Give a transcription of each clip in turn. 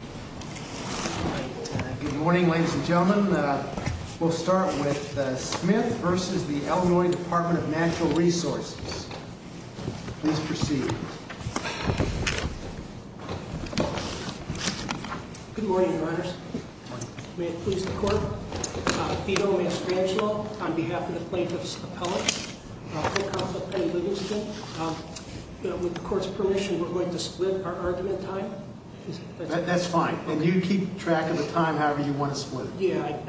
Good morning, ladies and gentlemen. We'll start with Smith v. Ill. Dept. of Natural Resources. Please proceed. Good morning, Your Honors. May it please the Court. Vito Mastrangelo, on behalf of the plaintiff's appellate, with the Court's permission, we're going to split our argument time. That's fine. And you keep track of the time however you want to split it. Yeah, I've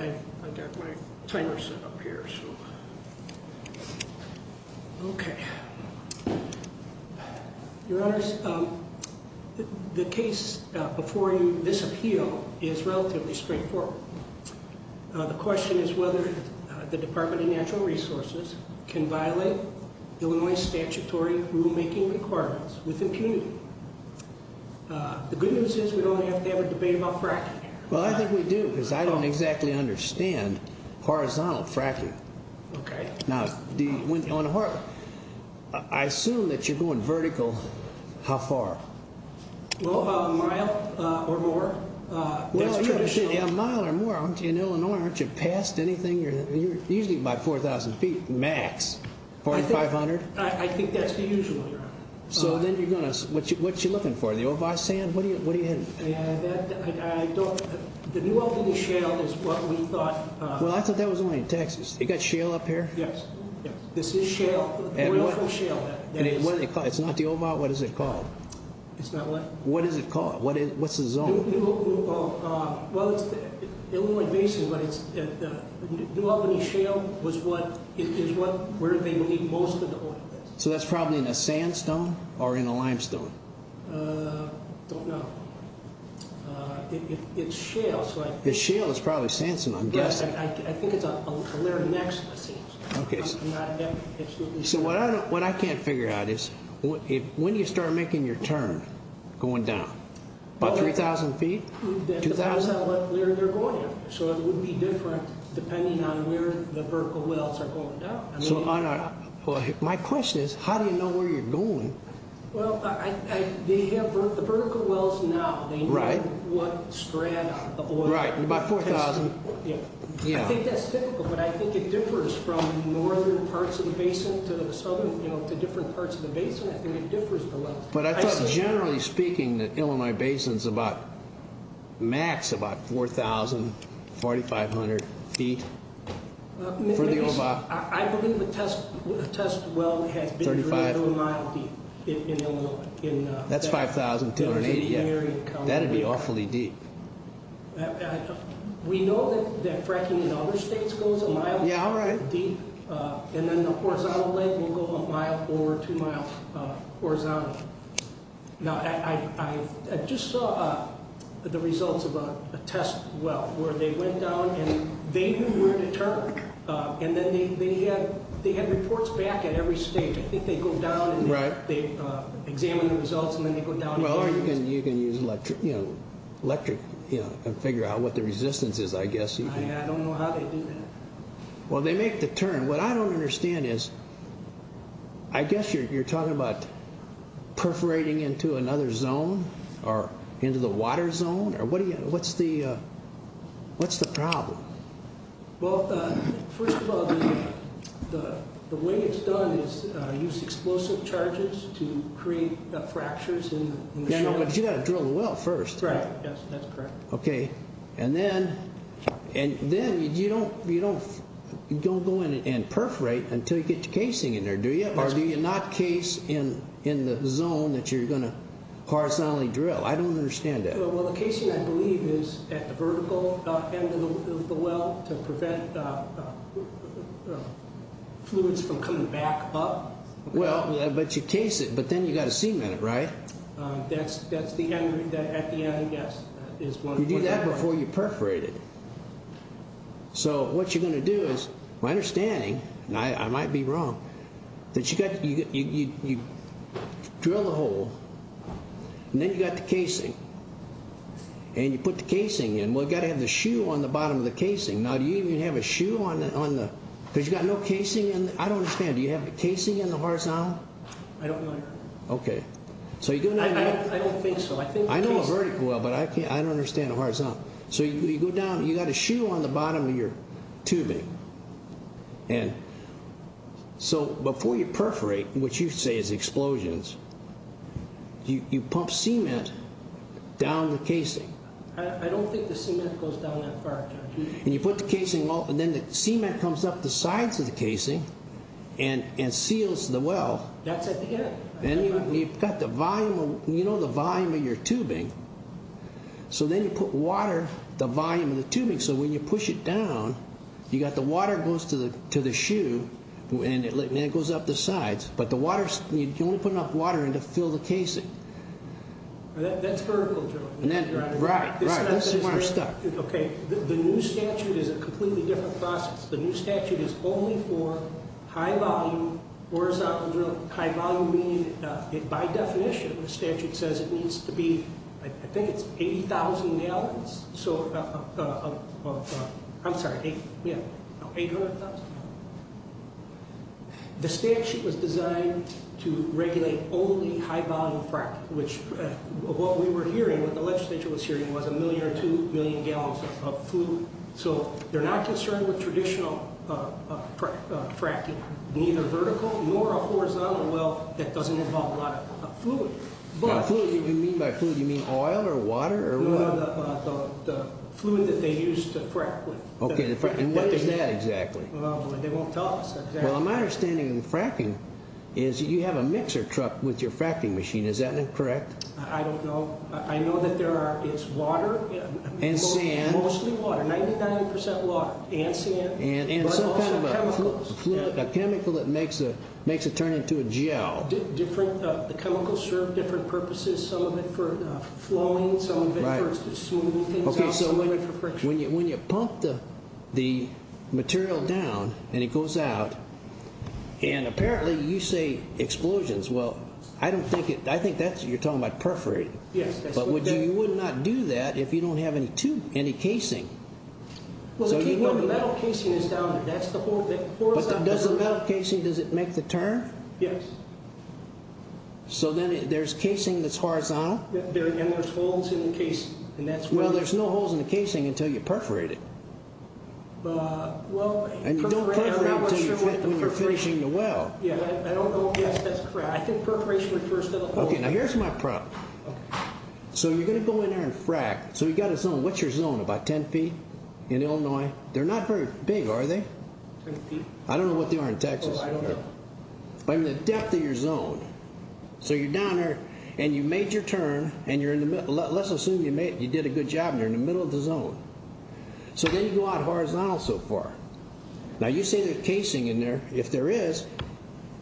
got my timer set up here. Okay. Your Honors, the case before you, this appeal, is relatively straightforward. The question is whether the Dept. of Natural Resources can violate Illinois statutory rulemaking requirements with impunity. The good news is we don't have to have a debate about fracking here. Well, I think we do, because I don't exactly understand horizontal fracking. Okay. Now, I assume that you're going vertical. How far? Well, a mile or more. That's traditional. Yeah, a mile or more. In Illinois, aren't you past anything? You're usually by 4,000 feet max. 4,500? I think that's the usual, Your Honors. So then you're going to – what are you looking for? The OVAW sand? What do you have? I don't – the new opening shale is what we thought – Well, I thought that was only in Texas. You got shale up here? Yes. This is shale. Oil from shale. It's not the OVAW? What is it called? It's not what? What is it called? What's the zone? Well, it's the Illinois Basin, but it's – the new opening shale was what – is where they made most of the oil. So that's probably in a sandstone or in a limestone? I don't know. It's shale, so I – It's shale. It's probably sandstone, I'm guessing. I think it's a layer next to the sandstone. Okay. Absolutely. So what I can't figure out is when do you start making your turn going down? About 3,000 feet? 2,000? That depends on where you're going. So it would be different depending on where the vertical wells are going down. So on a – my question is, how do you know where you're going? Well, they have the vertical wells now. Right. They know what strata of oil – Right. About 4,000 – Yeah. I think that's typical, but I think it differs from northern parts of the basin to the southern – you know, to different parts of the basin. I think it differs at the level. But I thought generally speaking that Illinois Basin's about – max about 4,000, 4,500 feet for the – I believe the test well has been drilled a mile deep in Illinois. That's 5,280. That would be awfully deep. We know that fracking in other states goes a mile deep. Yeah, all right. And then the horizontal leg will go a mile or two miles horizontally. Now, I just saw the results of a test well where they went down and they knew where to turn, and then they had reports back at every state. I think they go down and they examine the results, and then they go down again. Well, you can use electric and figure out what the resistance is, I guess. I don't know how they do that. Well, they make the turn. What I don't understand is I guess you're talking about perforating into another zone or into the water zone. What's the problem? Well, first of all, the way it's done is use explosive charges to create fractures in the shell. But you've got to drill the well first. Right. Yes, that's correct. Okay. And then you don't go in and perforate until you get your casing in there, do you? Or do you not case in the zone that you're going to horizontally drill? I don't understand that. Well, the casing, I believe, is at the vertical end of the well to prevent fluids from coming back up. Well, but you case it, but then you've got to cement it, right? That's the end. At the end, yes. You do that before you perforate it. So what you're going to do is, my understanding, and I might be wrong, that you drill the hole and then you've got the casing. And you put the casing in. Well, you've got to have the shoe on the bottom of the casing. Now, do you even have a shoe on the – because you've got no casing in – I don't understand. Do you have the casing in the horizontal? I don't know. Okay. I don't think so. I know a vertical well, but I don't understand the horizontal. So you go down. You've got a shoe on the bottom of your tubing. And so before you perforate, which you say is explosions, you pump cement down the casing. I don't think the cement goes down that far, John. And you put the casing all – and then the cement comes up the sides of the casing and seals the well. That's at the end. And you've got the volume of – you know the volume of your tubing. So then you put water, the volume of the tubing. So when you push it down, you've got the water goes to the shoe and it goes up the sides. But the water – you only put enough water in to fill the casing. That's vertical drilling. Right. Right. That's where we're stuck. Okay. The new statute is a completely different process. The new statute is only for high-volume, horizontal drilling. By definition, the statute says it needs to be – I think it's 80,000 gallons of – I'm sorry, 800,000. The statute was designed to regulate only high-volume fracking, which what we were hearing, what the legislature was hearing, was a million or two million gallons of food. So they're not concerned with traditional fracking, neither vertical nor a horizontal well that doesn't involve a lot of fluid. Now, fluid, what do you mean by fluid? You mean oil or water or what? No, the fluid that they use to frack with. Okay. And what is that exactly? They won't tell us exactly. Well, my understanding of fracking is that you have a mixer truck with your fracking machine. Is that correct? I don't know. I know that there are – it's water. And sand. Mostly water, 99% water and sand. And some kind of a chemical that makes it turn into a gel. The chemicals serve different purposes, some of it for flowing, some of it for smoothing things out, some of it for friction. When you pump the material down and it goes out, and apparently you say explosions. Well, I don't think it – I think that's – you're talking about perforating. Yes. But you would not do that if you don't have any casing. Well, the metal casing is down there. That's the hole that – But does the metal casing, does it make the turn? Yes. So then there's casing that's horizontal. And there's holes in the casing. Well, there's no holes in the casing until you perforate it. Well – And you don't perforate it until you're finishing the well. Yeah, I don't know if that's correct. I think perforation refers to the hole. Okay, now here's my problem. Okay. So you're going to go in there and frack. So you've got a zone. What's your zone? About 10 feet in Illinois. They're not very big, are they? 10 feet? I don't know what they are in Texas. Oh, I don't know. But I mean the depth of your zone. So you're down there, and you made your turn, and you're in the middle – let's assume you did a good job and you're in the middle of the zone. So then you go out horizontal so far. Now, you say there's casing in there. If there is,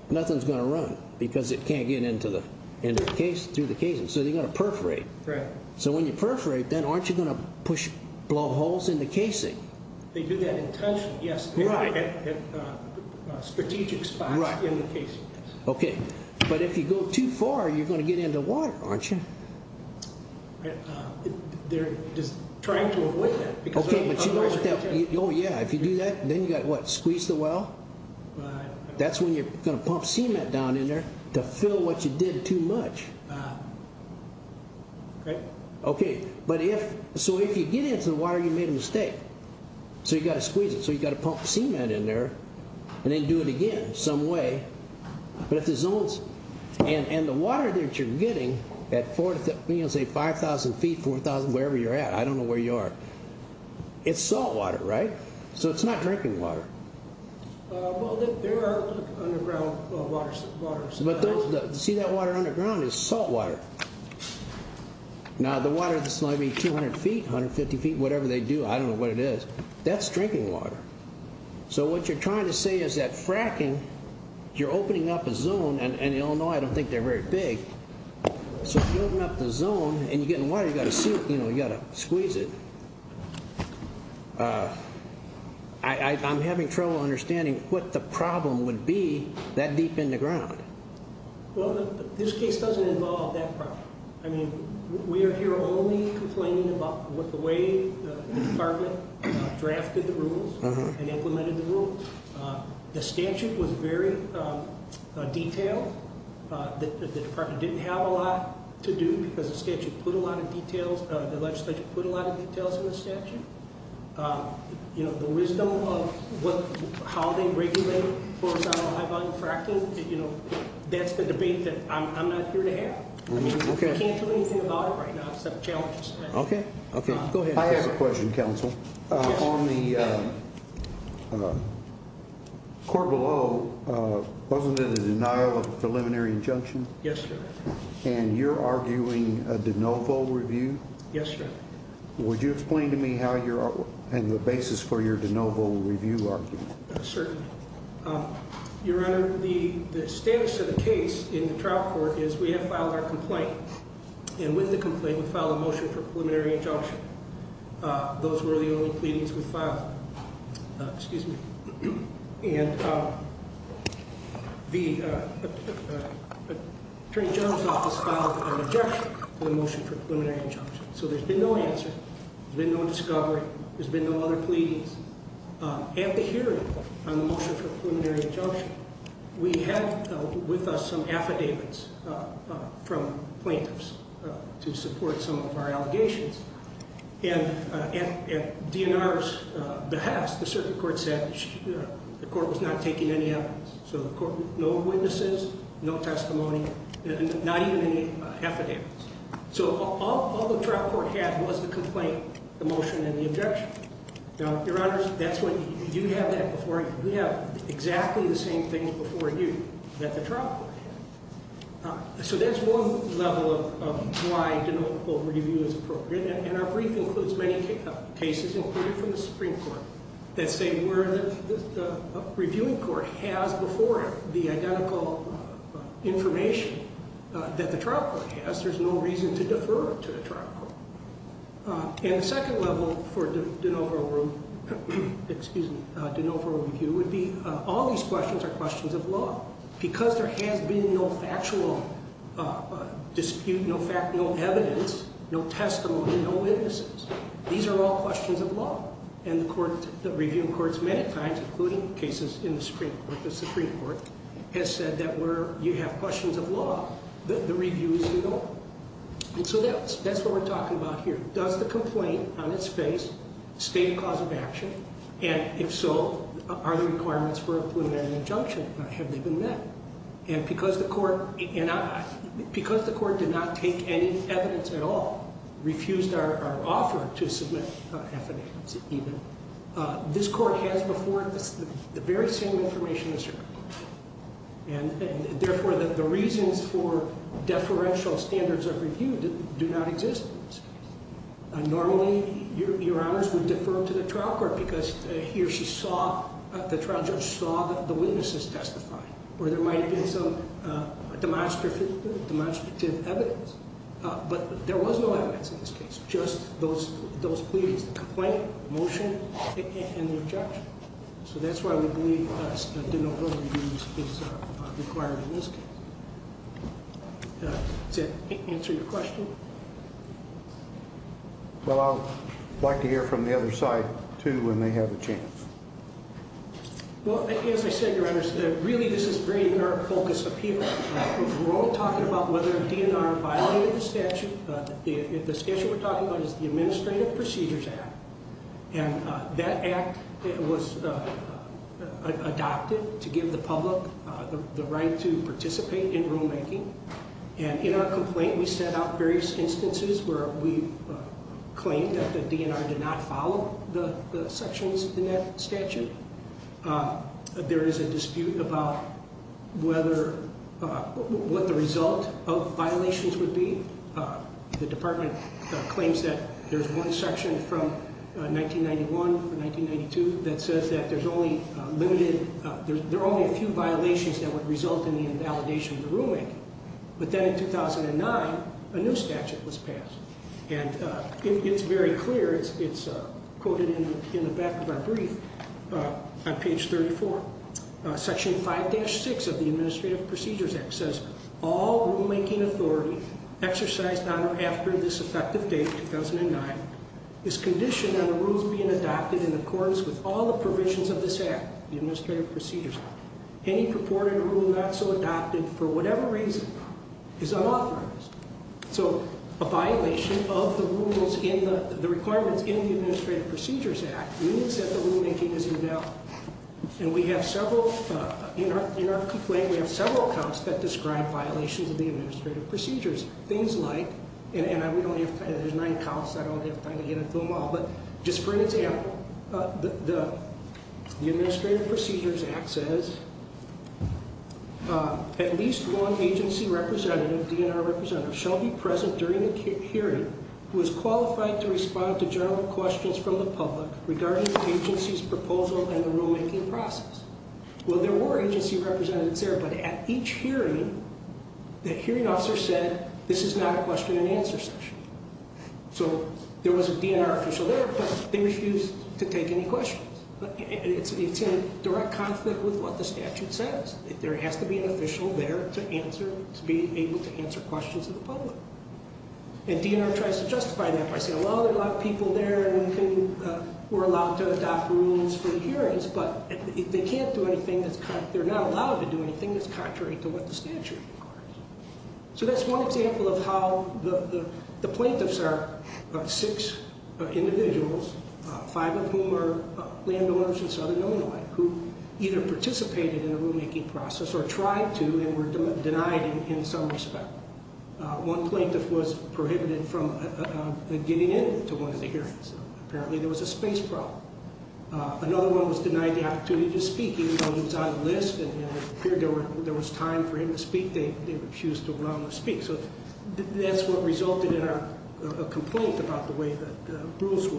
nothing's going to run because it can't get into the – through the casing. So you've got to perforate. Right. So when you perforate, then aren't you going to push – blow holes in the casing? They do that intentionally. Yes. Right. At strategic spots in the casing. Right. Okay. But if you go too far, you're going to get into water, aren't you? They're just trying to avoid that. Oh, yeah. If you do that, then you've got what? Squeeze the well? Right. That's when you're going to pump cement down in there to fill what you did too much. Right. Okay. But if – so if you get into the water, you made a mistake. So you've got to squeeze it. So you've got to pump cement in there and then do it again some way. But if the zones – and the water that you're getting at, say, 5,000 feet, 4,000, wherever you're at – I don't know where you are. It's saltwater, right? So it's not drinking water. Well, there are underground waters. But see that water underground is saltwater. Now, the water that's going to be 200 feet, 150 feet, whatever they do, I don't know what it is. That's drinking water. So what you're trying to say is that fracking, you're opening up a zone. And you all know I don't think they're very big. So if you open up the zone and you get in the water, you've got to squeeze it. I'm having trouble understanding what the problem would be that deep in the ground. Well, this case doesn't involve that problem. I mean, we are here only complaining about the way the department drafted the rules and implemented the rules. The statute was very detailed. The department didn't have a lot to do because the statute put a lot of details – the legislature put a lot of details in the statute. The wisdom of how they regulate for a high-volume fracking, that's the debate that I'm not here to have. I can't tell you anything about it right now except challenges. Okay. Go ahead. I have a question, counsel. On the court below, wasn't it a denial of preliminary injunction? Yes, sir. And you're arguing a de novo review? Yes, sir. Would you explain to me how you're – and the basis for your de novo review argument? Certainly. Your Honor, the status of the case in the trial court is we have filed our complaint. And with the complaint, we filed a motion for preliminary injunction. Those were the only pleadings we filed. Excuse me. And the Attorney General's Office filed an objection to the motion for preliminary injunction. So there's been no answer. There's been no discovery. There's been no other pleadings. At the hearing on the motion for preliminary injunction, we have with us some affidavits from plaintiffs to support some of our allegations. And at DNR's behest, the circuit court said the court was not taking any evidence. So no witnesses, no testimony, not even any affidavits. So all the trial court had was the complaint, the motion, and the objection. Now, Your Honor, that's when you have that before you. We have exactly the same things before you that the trial court had. So that's one level of why de novo review is appropriate. And our brief includes many cases, including from the Supreme Court, that say where the reviewing court has before it the identical information that the trial court has. There's no reason to defer to the trial court. And the second level for de novo review would be all these questions are questions of law. Because there has been no factual dispute, no evidence, no testimony, no witnesses. These are all questions of law. And the reviewing courts many times, including cases in the Supreme Court, has said that where you have questions of law, the review is to go. And so that's what we're talking about here. Does the complaint on its face state a cause of action? And if so, are there requirements for a preliminary injunction? Have they been met? And because the court did not take any evidence at all, refused our offer to submit evidence even, this court has before it the very same information as the Supreme Court. And therefore, the reasons for deferential standards of review do not exist in this case. Normally, your honors would defer to the trial court because he or she saw, the trial judge saw the witnesses testify. Or there might have been some demonstrative evidence. But there was no evidence in this case. Just those pleadings, the complaint, the motion, and the injunction. So that's why we believe de novo review is required in this case. Does that answer your question? Well, I'd like to hear from the other side, too, when they have the chance. Well, as I said, your honors, really, this is bringing our focus up here. We're all talking about whether a DNR violated the statute. The statute we're talking about is the Administrative Procedures Act. And that act was adopted to give the public the right to participate in rulemaking. And in our complaint, we set out various instances where we claimed that the DNR did not follow the sections in that statute. There is a dispute about whether, what the result of violations would be. The department claims that there's one section from 1991 to 1992 that says that there's only limited, there are only a few violations that would result in the invalidation of the rulemaking. But then in 2009, a new statute was passed. And it's very clear, it's quoted in the back of our brief on page 34. Section 5-6 of the Administrative Procedures Act says, all rulemaking authority exercised on or after this effective date, 2009, is conditioned on the rules being adopted in accordance with all the provisions of this act, the Administrative Procedures Act. Any purported rule not so adopted for whatever reason is unauthorized. So a violation of the rules in the, the requirements in the Administrative Procedures Act means that the rulemaking is invalid. And we have several, in our complaint, we have several accounts that describe violations of the Administrative Procedures. Things like, and we don't have time, there's nine counts, I don't have time to get into them all. But just for an example, the Administrative Procedures Act says, at least one agency representative, DNR representative, shall be present during the hearing who is qualified to respond to general questions from the public regarding the agency's proposal and the rulemaking process. Well, there were agency representatives there, but at each hearing, the hearing officer said, this is not a question and answer session. So there was a DNR official there, but they refused to take any questions. It's, it's in direct conflict with what the statute says. There has to be an official there to answer, to be able to answer questions of the public. And DNR tries to justify that by saying, well, there are a lot of people there, and we're allowed to adopt rules for the hearings, but they can't do anything that's, they're not allowed to do anything that's contrary to what the statute requires. So that's one example of how the plaintiffs are six individuals, five of whom are landowners in southern Illinois, who either participated in the rulemaking process or tried to and were denied in some respect. One plaintiff was prohibited from getting in to one of the hearings. Apparently there was a space problem. Another one was denied the opportunity to speak. He was on a list, and it appeared there was time for him to speak. They refused to allow him to speak. So that's what resulted in a complaint about the way that the rules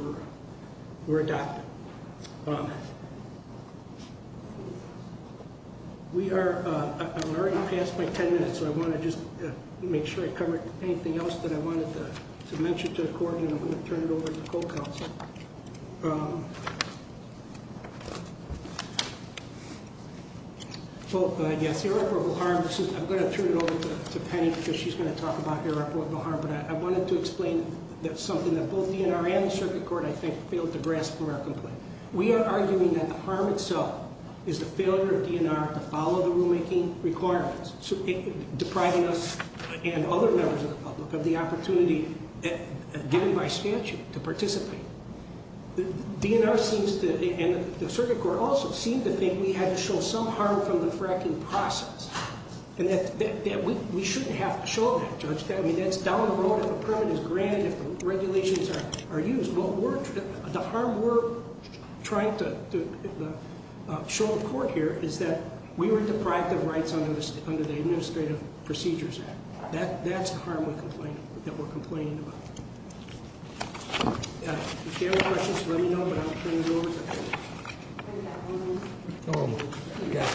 were adopted. We are, I'm already past my 10 minutes, so I want to just make sure I covered anything else that I wanted to mention to the Court, and I'm going to turn it over to the Co-Counsel. Well, yes, irreparable harm. I'm going to turn it over to Penny because she's going to talk about irreparable harm, but I wanted to explain something that both DNR and the Circuit Court, I think, failed to grasp from our complaint. We are arguing that the harm itself is the failure of DNR to follow the rulemaking requirements, depriving us and other members of the public of the opportunity given by statute to participate. DNR seems to, and the Circuit Court also, seem to think we had to show some harm from the fracking process, and that we shouldn't have to show that, Judge. I mean, that's down the road if a permit is granted, if regulations are used. The harm we're trying to show the Court here is that we were deprived of rights under the Administrative Procedures Act. That's the harm that we're complaining about. If you have any questions, let me know, but I'll turn it over to Penny. Well, I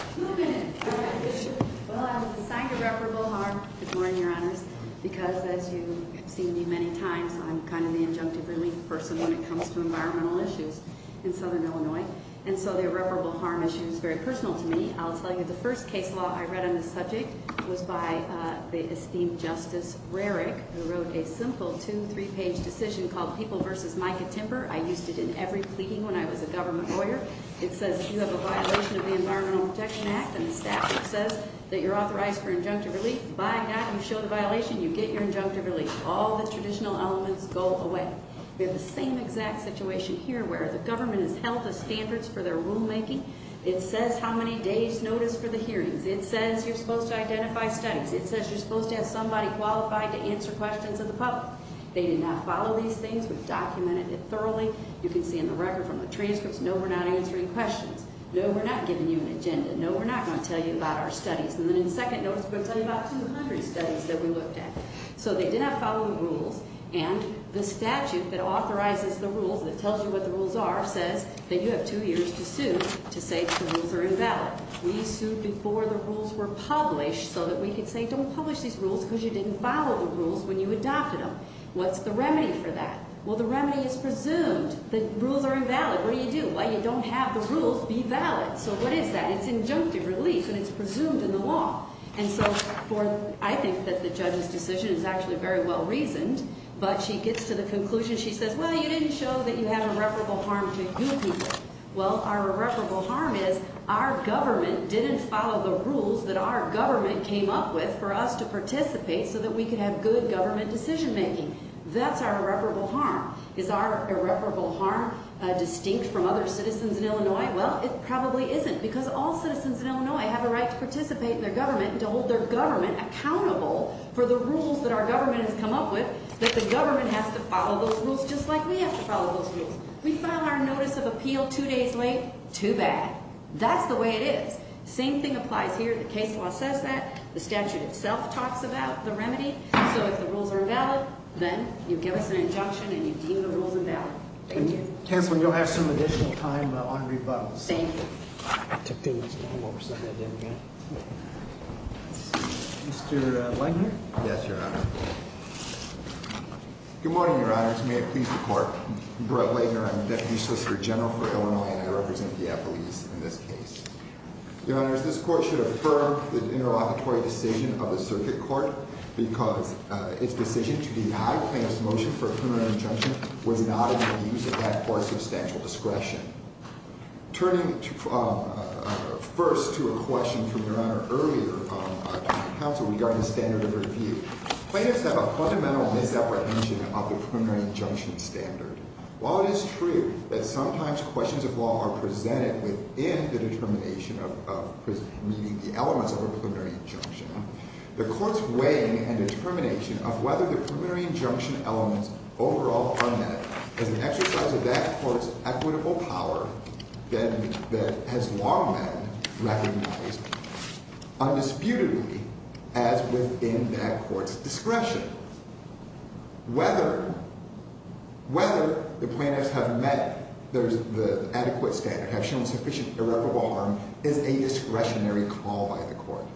was assigned irreparable harm this morning, Your Honors, because, as you've seen me many times, I'm kind of the injunctive relief person when it comes to environmental issues in Southern Illinois, and so the irreparable harm issue is very personal to me. I'll tell you, the first case law I read on this subject was by the esteemed Justice Rarick, who wrote a simple two-, three-page decision called People v. Mica Timber. I used it in every pleading when I was a government lawyer. It says you have a violation of the Environmental Protection Act, and the statute says that you're authorized for injunctive relief. By that, you show the violation, you get your injunctive relief. All the traditional elements go away. We have the same exact situation here, where the government has held the standards for their rulemaking. It says how many days' notice for the hearings. It says you're supposed to identify studies. It says you're supposed to have somebody qualified to answer questions of the public. They did not follow these things. We've documented it thoroughly. You can see in the record from the transcripts, no, we're not answering questions. No, we're not giving you an agenda. No, we're not going to tell you about our studies. And then in second notice, we're going to tell you about 200 studies that we looked at. So they did not follow the rules, and the statute that authorizes the rules, that tells you what the rules are, says that you have two years to sue to say the rules are invalid. We sued before the rules were published so that we could say, don't publish these rules because you didn't follow the rules when you adopted them. What's the remedy for that? Well, the remedy is presumed that rules are invalid. What do you do? Well, you don't have the rules be valid. So what is that? It's injunctive relief, and it's presumed in the law. And so I think that the judge's decision is actually very well-reasoned, but she gets to the conclusion, she says, well, you didn't show that you have irreparable harm to you people. Well, our irreparable harm is our government didn't follow the rules that our government came up with for us to participate so that we could have good government decision-making. That's our irreparable harm. Is our irreparable harm distinct from other citizens in Illinois? Well, it probably isn't because all citizens in Illinois have a right to participate in their government and to hold their government accountable for the rules that our government has come up with, that the government has to follow those rules just like we have to follow those rules. We file our notice of appeal two days late, too bad. That's the way it is. Same thing applies here. The case law says that. The statute itself talks about the remedy. So if the rules are invalid, then you give us an injunction and you deem the rules invalid. Thank you. Counsel, you'll have some additional time on rebuttals. Thank you. Mr. Laitner? Yes, Your Honor. Good morning, Your Honors. May it please the Court. Brett Laitner. I'm the Deputy Solicitor General for Illinois and I represent the appellees in this case. Your Honors, this Court should affirm the interlocutory decision of the Circuit Court because its decision to deny plaintiffs' motion for a preliminary injunction was not in the views of that Court's substantial discretion. Turning first to a question from Your Honor earlier, counsel, regarding the standard of review, plaintiffs have a fundamental misapprehension of the preliminary injunction standard. While it is true that sometimes questions of law are presented within the determination of prison, meaning the elements of a preliminary injunction, the Court's weighing and determination of whether the preliminary injunction elements overall are met is an exercise of that Court's equitable power that has long been recognized undisputedly as within that Court's discretion. Whether the plaintiffs have met the adequate standard, have shown sufficient irreparable harm, is a discretionary call by the Court.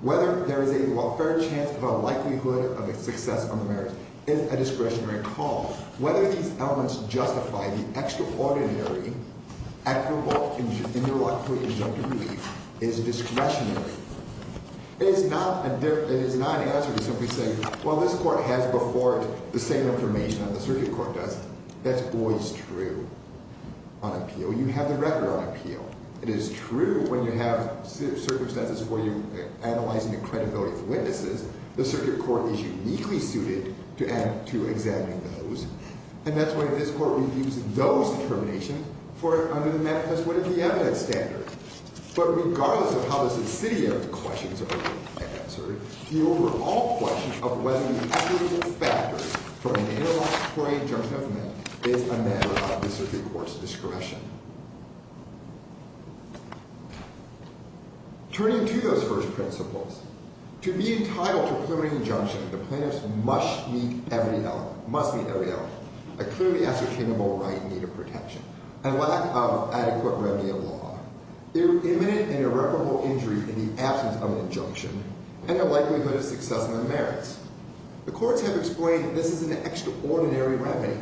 Whether there is a fair chance of a likelihood of a successful marriage is a discretionary call. Whether these elements justify the extraordinary, equitable interlocutory injunctive relief is discretionary. It is not an answer to simply say, well, this Court has before it the same information that the Circuit Court does. That's always true on appeal. You have the record on appeal. It is true when you have circumstances where you're analyzing the credibility of witnesses. The Circuit Court is uniquely suited to examining those. And that's why this Court reviews those determinations for under the Memphis What If The Evidence standard. But regardless of how the subsidiary questions are answered, the overall question of whether the equitable factors for an interlocutory injunction element is a matter of the Circuit Court's discretion. Turning to those first principles, to be entitled to a preliminary injunction, the plaintiffs must meet every element, a clearly ascertainable right in need of protection, a lack of adequate remedy of law, their imminent and irreparable injury in the absence of an injunction, and a likelihood of success in the marriage. The courts have explained that this is an extraordinary remedy.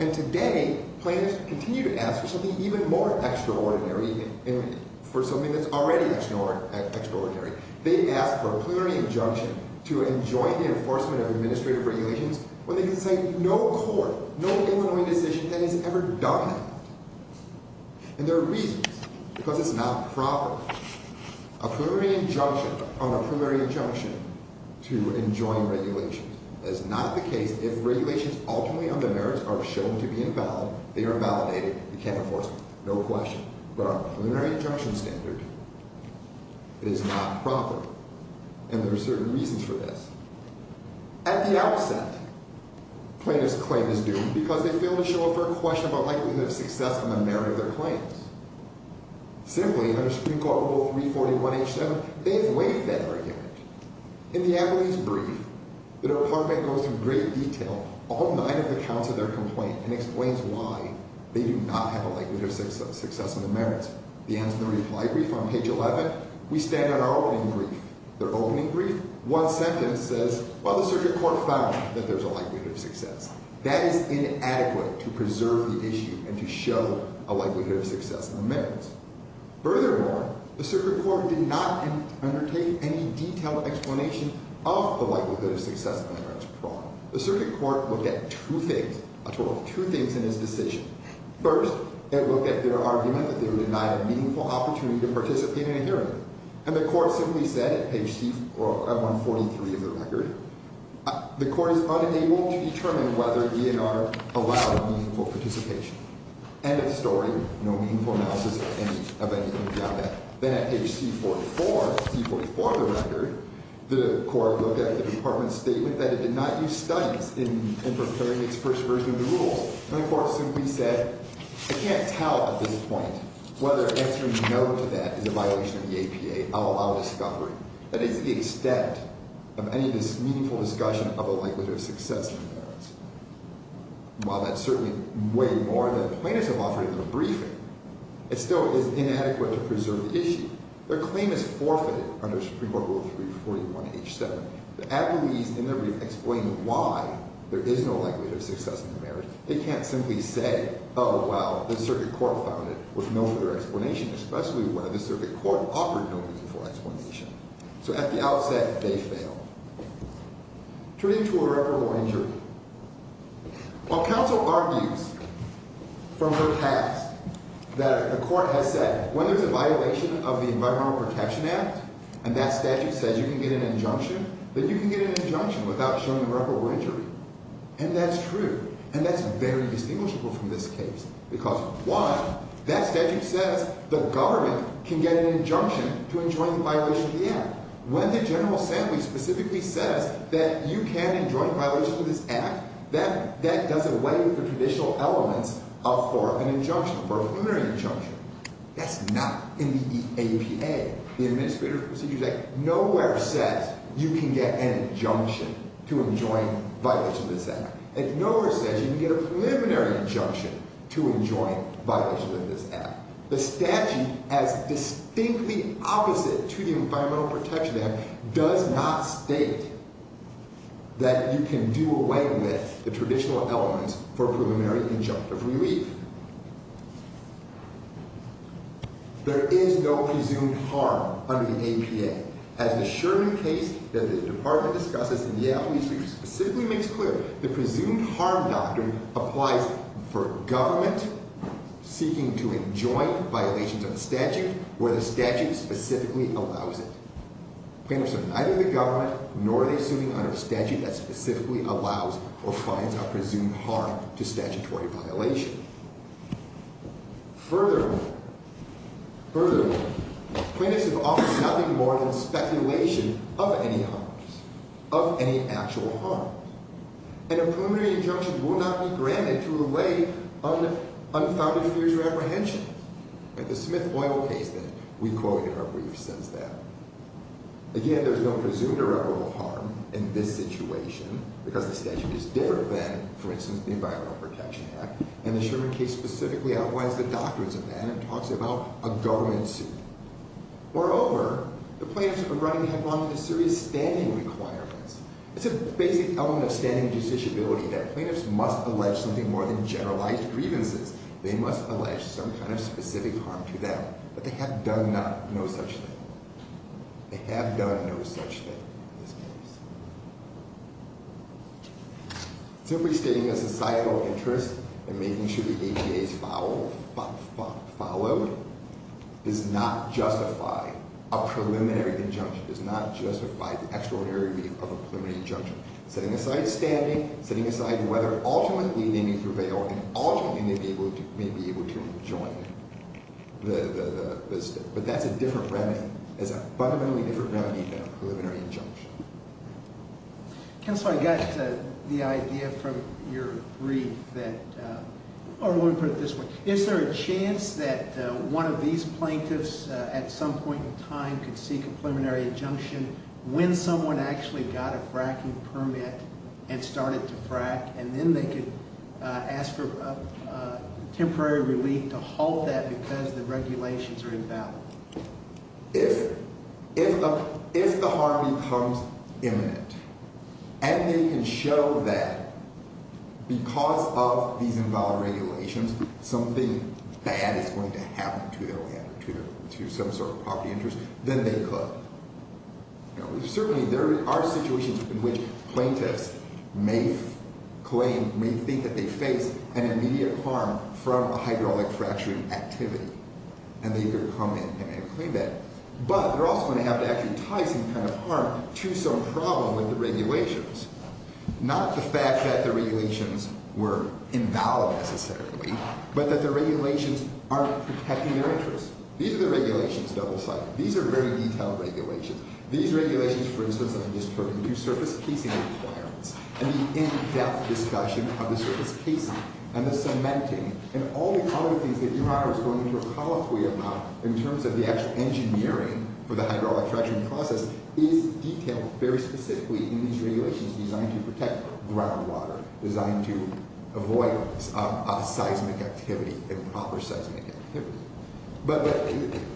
And today, plaintiffs continue to ask for something even more extraordinary, for something that's already extraordinary. They ask for a preliminary injunction to enjoin the enforcement of administrative regulations when they can say no court, no Illinois decision that has ever done that. And there are reasons. Because it's not proper. A preliminary injunction on a preliminary injunction to enjoin regulations is not the case if regulations ultimately on the merits are shown to be invalid. They are invalidated. You can't enforce them. No question. But a preliminary injunction standard is not proper. And there are certain reasons for this. At the outset, plaintiff's claim is doomed because they fail to show a fair question about likelihood of success on the merit of their claims. Simply, under Supreme Court Rule 341H7, they've waived that argument. In the appellee's brief, the department goes through in great detail all nine of the counts of their complaint and explains why they do not have a likelihood of success on the merits. The answer in the reply brief on page 11, we stand on our opening brief. Their opening brief, one sentence says, well, the circuit court found that there's a likelihood of success. That is inadequate to preserve the issue and to show a likelihood of success. Furthermore, the circuit court did not undertake any detailed explanation of the likelihood of success on the merits of fraud. The circuit court looked at two things, a total of two things in this decision. First, it looked at their argument that they were denied a meaningful opportunity to participate in a hearing. And the court simply said, page 143 of the record, the court is unable to determine whether E&R allowed meaningful participation. End of story. No meaningful analysis of anything beyond that. Then at page C44, C44 of the record, the court looked at the department's statement that it did not use studies in preparing its first version of the rules. And the court simply said, I can't tell at this point whether answering no to that is a violation of the APA. I'll allow discovery. That is the extent of any of this meaningful discussion of a likelihood of success on the merits. While that's certainly way more than the plaintiffs have offered in their briefing, it still is inadequate to preserve the issue. Their claim is forfeited under Supreme Court Rule 341H7. The advocates in their brief explain why there is no likelihood of success on the merits. They can't simply say, oh, well, the circuit court found it with no further explanation, especially when the circuit court offered no meaningful explanation. So at the outset, they failed. Turning to irreparable injury. While counsel argues from her past that the court has said when there's a violation of the Environmental Protection Act and that statute says you can get an injunction, then you can get an injunction without showing irreparable injury. And that's true. And that's very distinguishable from this case because, one, that statute says the government can get an injunction to enjoin the violation of the act. When the general assembly specifically says that you can enjoin violation of this act, that does away with the traditional elements for an injunction, for a preliminary injunction. That's not in the EAPA, the Administrative Procedures Act. Nowhere says you can get an injunction to enjoin violation of this act. Nowhere says you can get a preliminary injunction to enjoin violation of this act. The statute, as distinctly opposite to the Environmental Protection Act, does not state that you can do away with the traditional elements for a preliminary injunction. If we read, there is no presumed harm under the APA. As the Sherman case that the department discusses in the AFL-E specifically makes clear, the presumed harm doctrine applies for government seeking to enjoin violations of a statute where the statute specifically allows it. Plaintiffs are neither the government nor are they suing under a statute that specifically allows or finds a presumed harm to statutory violation. Furthermore, plaintiffs have offered nothing more than speculation of any harms, of any actual harm. And a preliminary injunction will not be granted to allay unfounded fears or apprehensions. The Smith Oil case that we quoted in our brief says that. Again, there's no presumed or irreparable harm in this situation because the statute is different than, for instance, the Environmental Protection Act. And the Sherman case specifically outlines the doctrines of that and talks about a government suit. Moreover, the plaintiffs are running headlong into serious standing requirements. It's a basic element of standing judiciability that plaintiffs must allege something more than generalized grievances. They must allege some kind of specific harm to them. But they have done no such thing. They have done no such thing in this case. Simply stating a societal interest in making sure the ADA is followed does not justify a preliminary injunction, does not justify the extraordinary relief of a preliminary injunction. Setting aside standing, setting aside whether ultimately they may prevail, and ultimately they may be able to rejoin the state. But that's a different remedy. Counsel, I got the idea from your brief that, or let me put it this way. Is there a chance that one of these plaintiffs at some point in time could seek a preliminary injunction when someone actually got a fracking permit and started to frack, and then they could ask for temporary relief to halt that because the regulations are invalid? If the harm becomes imminent and they can show that because of these invalid regulations, something bad is going to happen to their land or to some sort of property interest, then they could. Certainly there are situations in which plaintiffs may claim, may think that they face an immediate harm from a hydraulic fracturing activity, and they could come in and claim that. But they're also going to have to actually tie some kind of harm to some problem with the regulations. Not the fact that the regulations were invalid necessarily, but that the regulations aren't protecting their interest. These are the regulations, double-sided. These are very detailed regulations. These regulations, for instance, that I just heard, and the in-depth discussion of the surface casing and the cementing and all the other things that your Honor is going to recall to me about in terms of the actual engineering for the hydraulic fracturing process is detailed very specifically in these regulations designed to protect groundwater, designed to avoid seismic activity, improper seismic activity. But,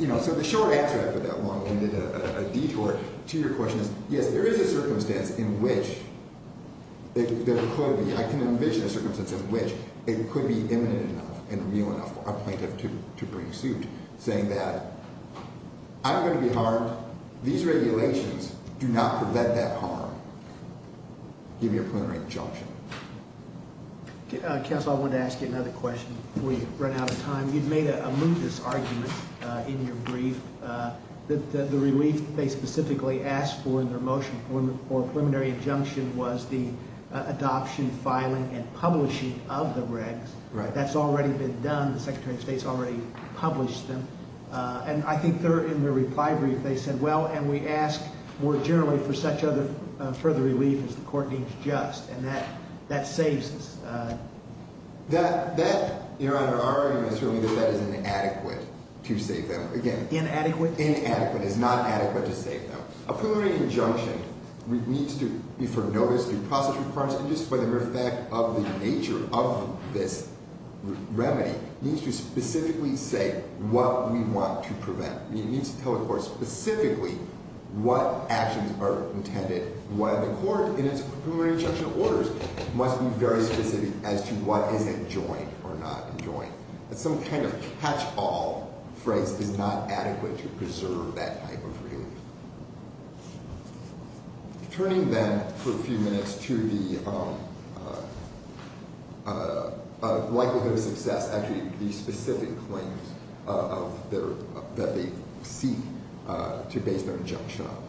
you know, so the short answer after that long-winded detour to your question is, yes, there is a circumstance in which there could be, I can envision a circumstance in which it could be imminent enough and real enough for a plaintiff to bring suit, saying that I'm going to be harmed. These regulations do not prevent that harm. Give me a preliminary judgment. Counsel, I wanted to ask you another question before you run out of time. You'd made a moodless argument in your brief that the relief they specifically asked for in their motion for a preliminary injunction was the adoption, filing, and publishing of the regs. That's already been done. The Secretary of State has already published them. And I think they're in the reply brief. They said, well, and we ask more generally for such further relief as the court deems just. And that saves us. Your Honor, our argument is that that is inadequate to save them. Inadequate? Inadequate. It is not adequate to save them. A preliminary injunction needs to be for notice, due process requirements, and just by the mere fact of the nature of this remedy, needs to specifically say what we want to prevent. It needs to tell the court specifically what actions are intended, and why the court, in its preliminary injunction orders, must be very specific as to what is enjoined or not enjoined. Some kind of catch-all phrase is not adequate to preserve that type of relief. Turning then for a few minutes to the likelihood of success, actually the specific claims that they seek to base their injunction on.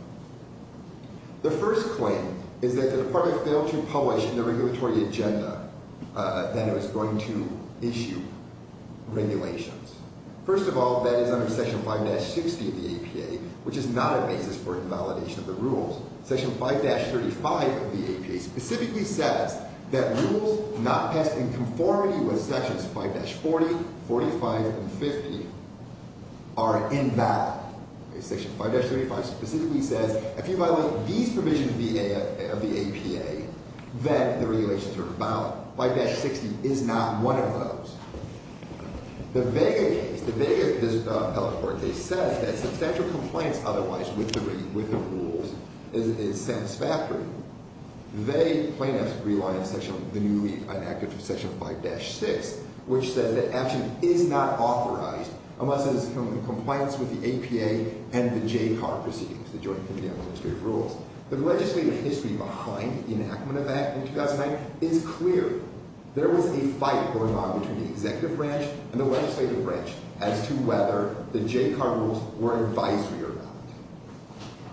The first claim is that the Department failed to publish in the regulatory agenda that it was going to issue regulations. First of all, that is under Section 5-60 of the APA, which is not a basis for invalidation of the rules. Section 5-35 of the APA specifically says that rules not passed in conformity with Sections 5-40, 45, and 50 are invalid. Section 5-35 specifically says if you violate these provisions of the APA, then the regulations are invalid. 5-60 is not one of those. The Vega case, the Vega case, the Electoral Court case, says that substantial compliance otherwise with the rules is satisfactory. They, plaintiffs, rely on Section 5-6, which says that action is not authorized unless it is in compliance with the APA and the JCAR proceedings, the Joint Committee on Administrative Rules. The legislative history behind the enactment of that in 2009 is clear. There was a fight going on between the executive branch and the legislative branch as to whether the JCAR rules were advisory or not.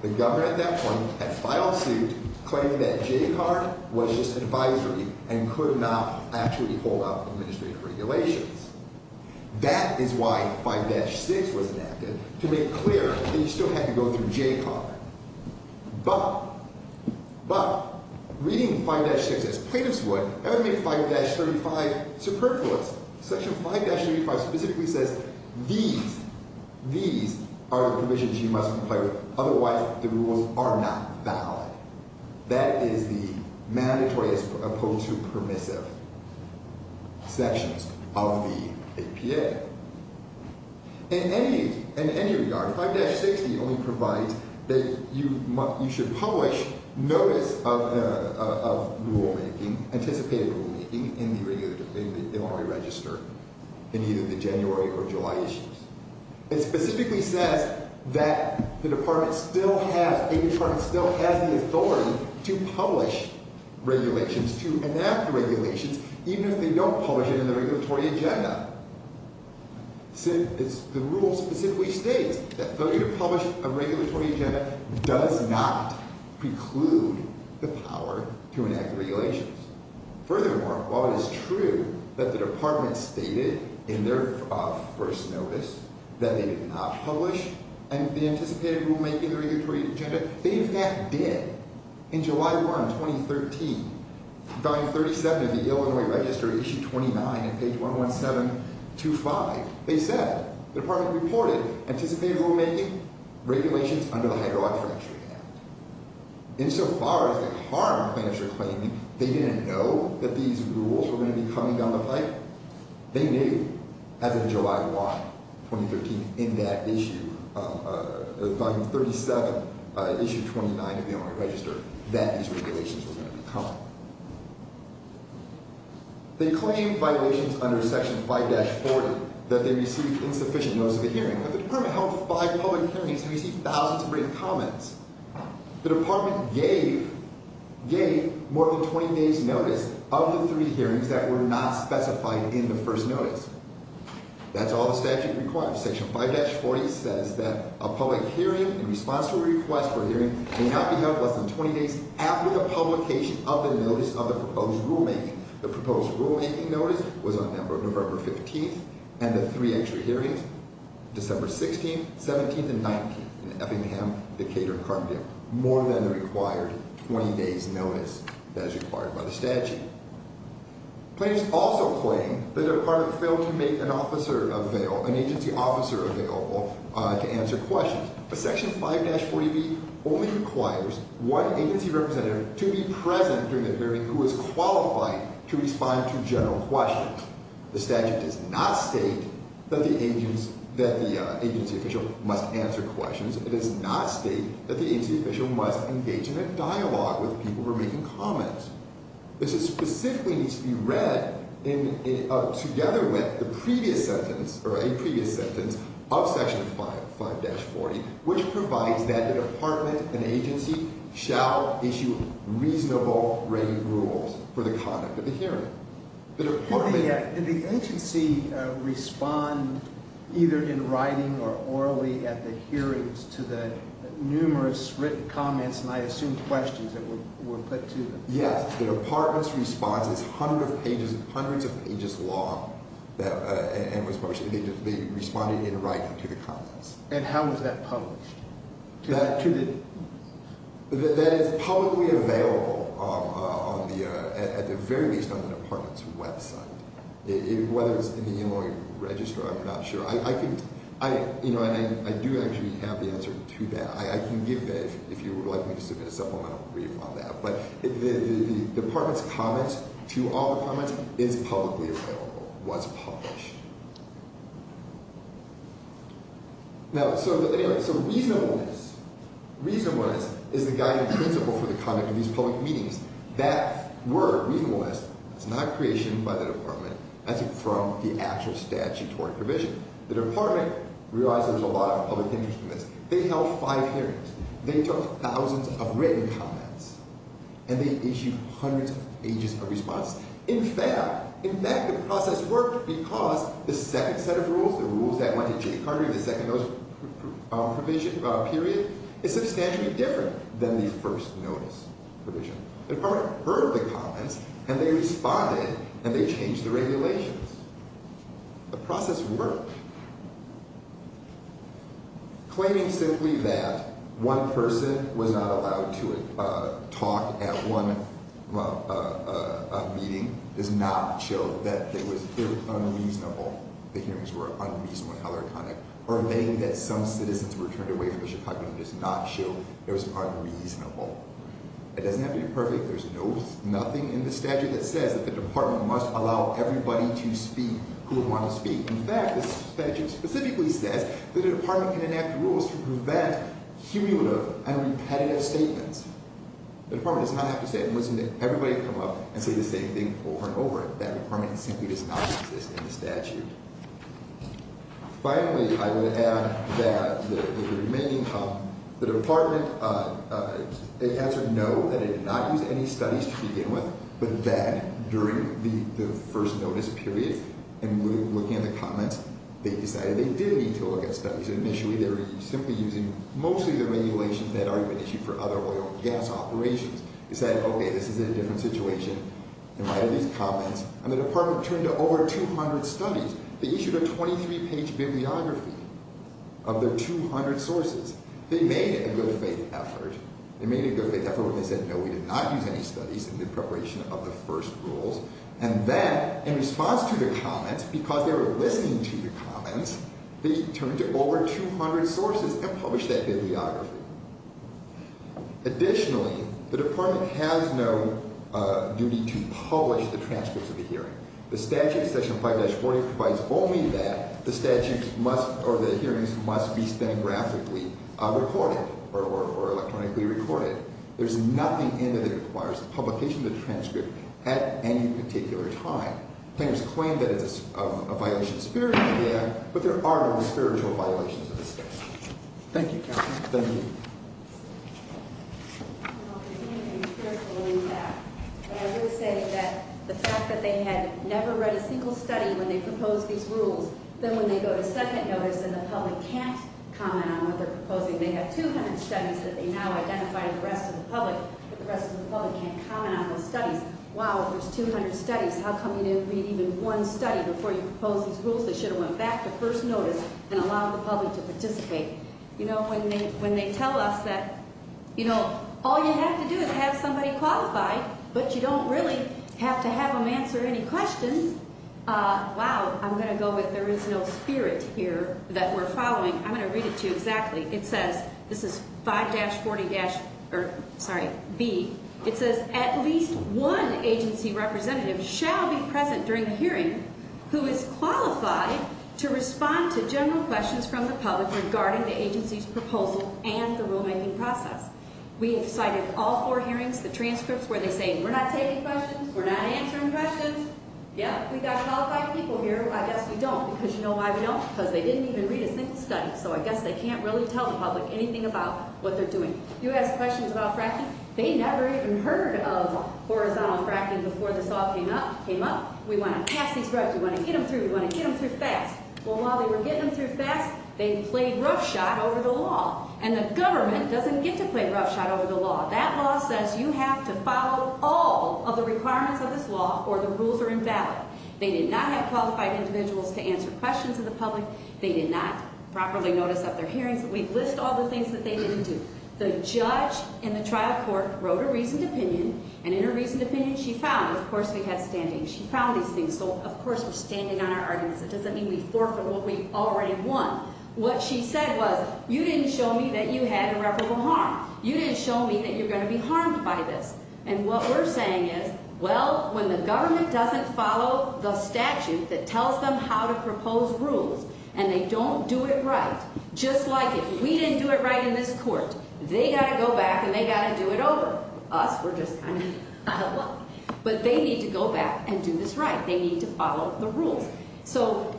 The government at that point had filed suit claiming that JCAR was just advisory and could not actually hold up administrative regulations. That is why 5-6 was enacted, to make clear that you still had to go through JCAR. But reading 5-6 as plaintiffs would, that would make 5-35 superfluous. Section 5-35 specifically says these are the provisions you must comply with, otherwise the rules are not valid. That is the mandatory as opposed to permissive sections of the APA. In any regard, 5-60 only provides that you should publish notice of rulemaking, anticipated rulemaking, in the Illinois Register in either the January or July issues. It specifically says that a department still has the authority to publish regulations, to enact the regulations, even if they don't publish it in the regulatory agenda. The rule specifically states that failure to publish a regulatory agenda does not preclude the power to enact regulations. Furthermore, while it is true that the department stated in their first notice that they did not publish the anticipated rulemaking in the regulatory agenda, they in fact did. In July 1, 2013, Volume 37 of the Illinois Register, Issue 29, on page 11725, they said the department reported anticipated rulemaking, regulations under the Hydraulic Fracture Act. Insofar as it harmed plaintiffs' reclaiming, they didn't know that these rules were going to be coming down the pipe. They knew, as of July 1, 2013, in that issue, Volume 37, Issue 29 of the Illinois Register, that these regulations were going to be coming. They claimed violations under Section 5-40 that they received insufficient notice of the hearing, but the department held five public hearings and received thousands of written comments. The department gave more than 20 days' notice of the three hearings that were not specified in the first notice. That's all the statute requires. Section 5-40 says that a public hearing in response to a request for a hearing may not be held less than 20 days after the publication of the notice of the proposed rulemaking. The proposed rulemaking notice was on November 15th, and the three extra hearings, December 16th, 17th, and 19th, in Effingham, Decatur, and Carpenter, more than the required 20 days' notice as required by the statute. Claims also claim that the department failed to make an agency officer available to answer questions. But Section 5-40b only requires one agency representative to be present during the hearing who is qualified to respond to general questions. The statute does not state that the agency official must answer questions. It does not state that the agency official must engage in a dialogue with people who are making comments. This specifically needs to be read together with a previous sentence of Section 5-40, which provides that the department and agency shall issue reasonable rating rules for the conduct of the hearing. Did the agency respond either in writing or orally at the hearings to the numerous written comments, and I assume questions that were put to them? Yes. The department's response is hundreds of pages long, and they responded in writing to the comments. And how was that published? That is publicly available at the very least on the department's website. Whether it's in the Illinois Register, I'm not sure. I do actually have the answer to that. I can give that if you would like me to submit a supplemental brief on that. But the department's comment to all the comments is publicly available, was published. Now, so reasonableness is the guiding principle for the conduct of these public meetings. That word, reasonableness, is not creation by the department. That's from the actual statutory provision. The department realized there was a lot of public interest in this. They held five hearings. They took thousands of written comments, and they issued hundreds of pages of response. In fact, the process worked because the second set of rules, the rules that went to Jay Carter, the second notice period, is substantially different than the first notice provision. The department heard the comments, and they responded, and they changed the regulations. The process worked. Claiming simply that one person was not allowed to talk at one meeting does not show that it was unreasonable. The hearings were unreasonably hellerconic. Or admitting that some citizens were turned away from the Chicago meeting does not show it was unreasonable. It doesn't have to be perfect. There's nothing in the statute that says that the department must allow everybody to speak who would want to speak. In fact, the statute specifically says that the department can enact rules to prevent cumulative and repetitive statements. The department does not have to say it and listen to everybody come up and say the same thing over and over again. That requirement simply does not exist in the statute. Finally, I would add that the department answered no, that it did not use any studies to begin with, but that during the first notice period and looking at the comments, they decided they did need to look at studies. Initially, they were simply using mostly the regulations that had already been issued for other oil and gas operations. They said, okay, this is a different situation, and why do these comments? And the department turned to over 200 studies. They issued a 23-page bibliography of the 200 sources. They made a good faith effort. They said, no, we did not use any studies in the preparation of the first rules, and then in response to the comments, because they were listening to the comments, they turned to over 200 sources and published that bibliography. Additionally, the department has no duty to publish the transcripts of the hearing. The statute, section 5-40, provides only that. The hearings must be stenographically recorded or electronically recorded. There is nothing in it that requires publication of the transcript at any particular time. Tenors claim that it is a violation of spirituality, but there are no spiritual violations of the statute. Thank you, counsel. Thank you. Well, if anything, we're pulling back. And I will say that the fact that they had never read a single study when they proposed these rules, then when they go to second notice and the public can't comment on what they're proposing, they have 200 studies that they now identify with the rest of the public, but the rest of the public can't comment on those studies. Wow, if there's 200 studies, how come you didn't read even one study before you proposed these rules? They should have went back to first notice and allowed the public to participate. You know, when they tell us that, you know, all you have to do is have somebody qualify, but you don't really have to have them answer any questions. Wow, I'm going to go with there is no spirit here that we're following. I'm going to read it to you exactly. It says, this is 5-40-B, it says, at least one agency representative shall be present during the hearing who is qualified to respond to general questions from the public regarding the agency's proposal and the rulemaking process. We have cited all four hearings, the transcripts where they say we're not taking questions, we're not answering questions. Yeah, we've got qualified people here. I guess we don't, because you know why we don't? Because they didn't even read a single study, so I guess they can't really tell the public anything about what they're doing. You asked questions about fracking. They never even heard of horizontal fracking before this all came up. We want to pass these records. We want to get them through. We want to get them through fast. Well, while they were getting them through fast, they played roughshod over the law, and the government doesn't get to play roughshod over the law. That law says you have to follow all of the requirements of this law or the rules are invalid. They did not have qualified individuals to answer questions of the public. They did not properly notice at their hearings. We list all the things that they didn't do. The judge in the trial court wrote a reasoned opinion, and in her reasoned opinion, she found, of course, we had standings. She found these things. So, of course, we're standing on our arguments. It doesn't mean we forfeit what we already won. What she said was, you didn't show me that you had irreparable harm. You didn't show me that you're going to be harmed by this. And what we're saying is, well, when the government doesn't follow the statute that tells them how to propose rules and they don't do it right, just like if we didn't do it right in this court, they got to go back and they got to do it over. Us, we're just kind of out of luck. But they need to go back and do this right. They need to follow the rules. So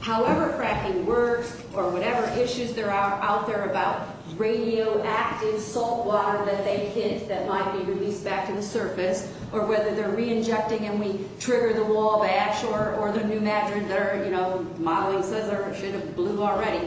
however fracking works or whatever issues there are out there about radioactive salt water that they hit that might be released back to the surface, or whether they're re-injecting and we trigger the wall bash or the pneumatron that our, you know, modeling says should have blew already,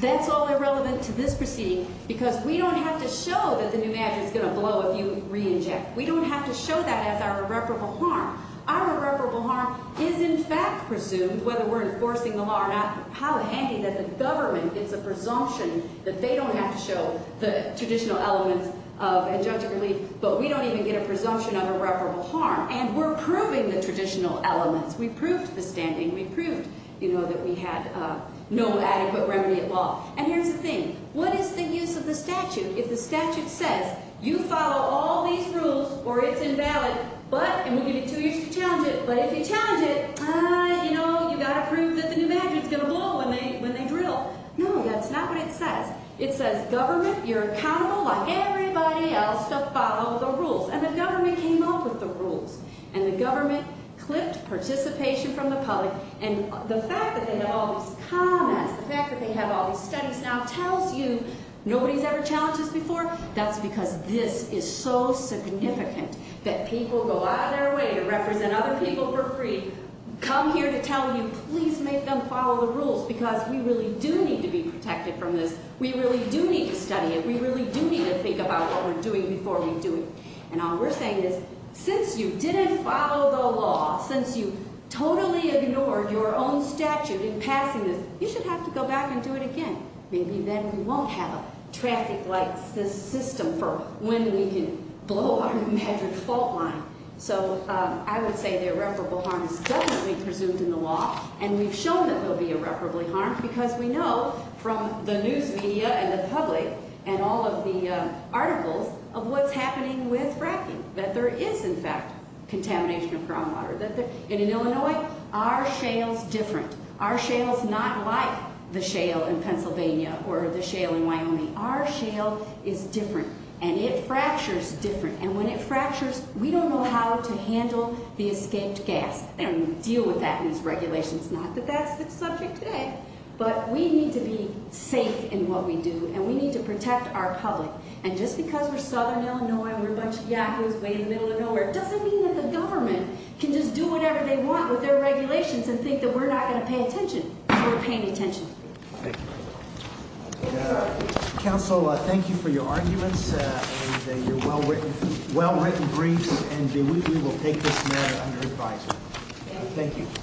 that's all irrelevant to this proceeding because we don't have to show that the pneumatron is going to blow if you re-inject. We don't have to show that as our irreparable harm. Our irreparable harm is in fact presumed, whether we're enforcing the law or not, how handy that the government gets a presumption that they don't have to show the traditional elements of adjunctive relief, but we don't even get a presumption of irreparable harm. And we're proving the traditional elements. We proved the standing. We proved, you know, that we had no adequate remedy at law. And here's the thing. What is the use of the statute if the statute says you follow all these rules or it's invalid, but, and we give you two years to challenge it, but if you challenge it, you know, you've got to prove that the pneumatron is going to blow when they drill. No, that's not what it says. It says government, you're accountable like everybody else to follow the rules. And the government came up with the rules, and the government clipped participation from the public, and the fact that they have all these comments, the fact that they have all these studies now tells you nobody's ever challenged this before. That's because this is so significant that people go out of their way to represent other people for free, come here to tell you please make them follow the rules because we really do need to be protected from this. We really do need to study it. We really do need to think about what we're doing before we do it. And all we're saying is since you didn't follow the law, since you totally ignored your own statute in passing this, you should have to go back and do it again. Maybe then we won't have a traffic light system for when we can blow our magic fault line. So I would say the irreparable harm is definitely presumed in the law, and we've shown that there will be irreparably harm because we know from the news media and the public and all of the articles of what's happening with fracking that there is, in fact, contamination of groundwater. In Illinois, our shale's different. Our shale's not like the shale in Pennsylvania or the shale in Wyoming. Our shale is different, and it fractures different. And when it fractures, we don't know how to handle the escaped gas and deal with that in these regulations. Not that that's the subject today, but we need to be safe in what we do, and we need to protect our public. And just because we're southern Illinois and we're a bunch of yahoos way in the middle of nowhere doesn't mean that the government can just do whatever they want with their regulations and think that we're not going to pay attention if we're paying attention. Thank you. Counsel, thank you for your arguments and your well-written briefs, and we will take this matter under advisory. Thank you.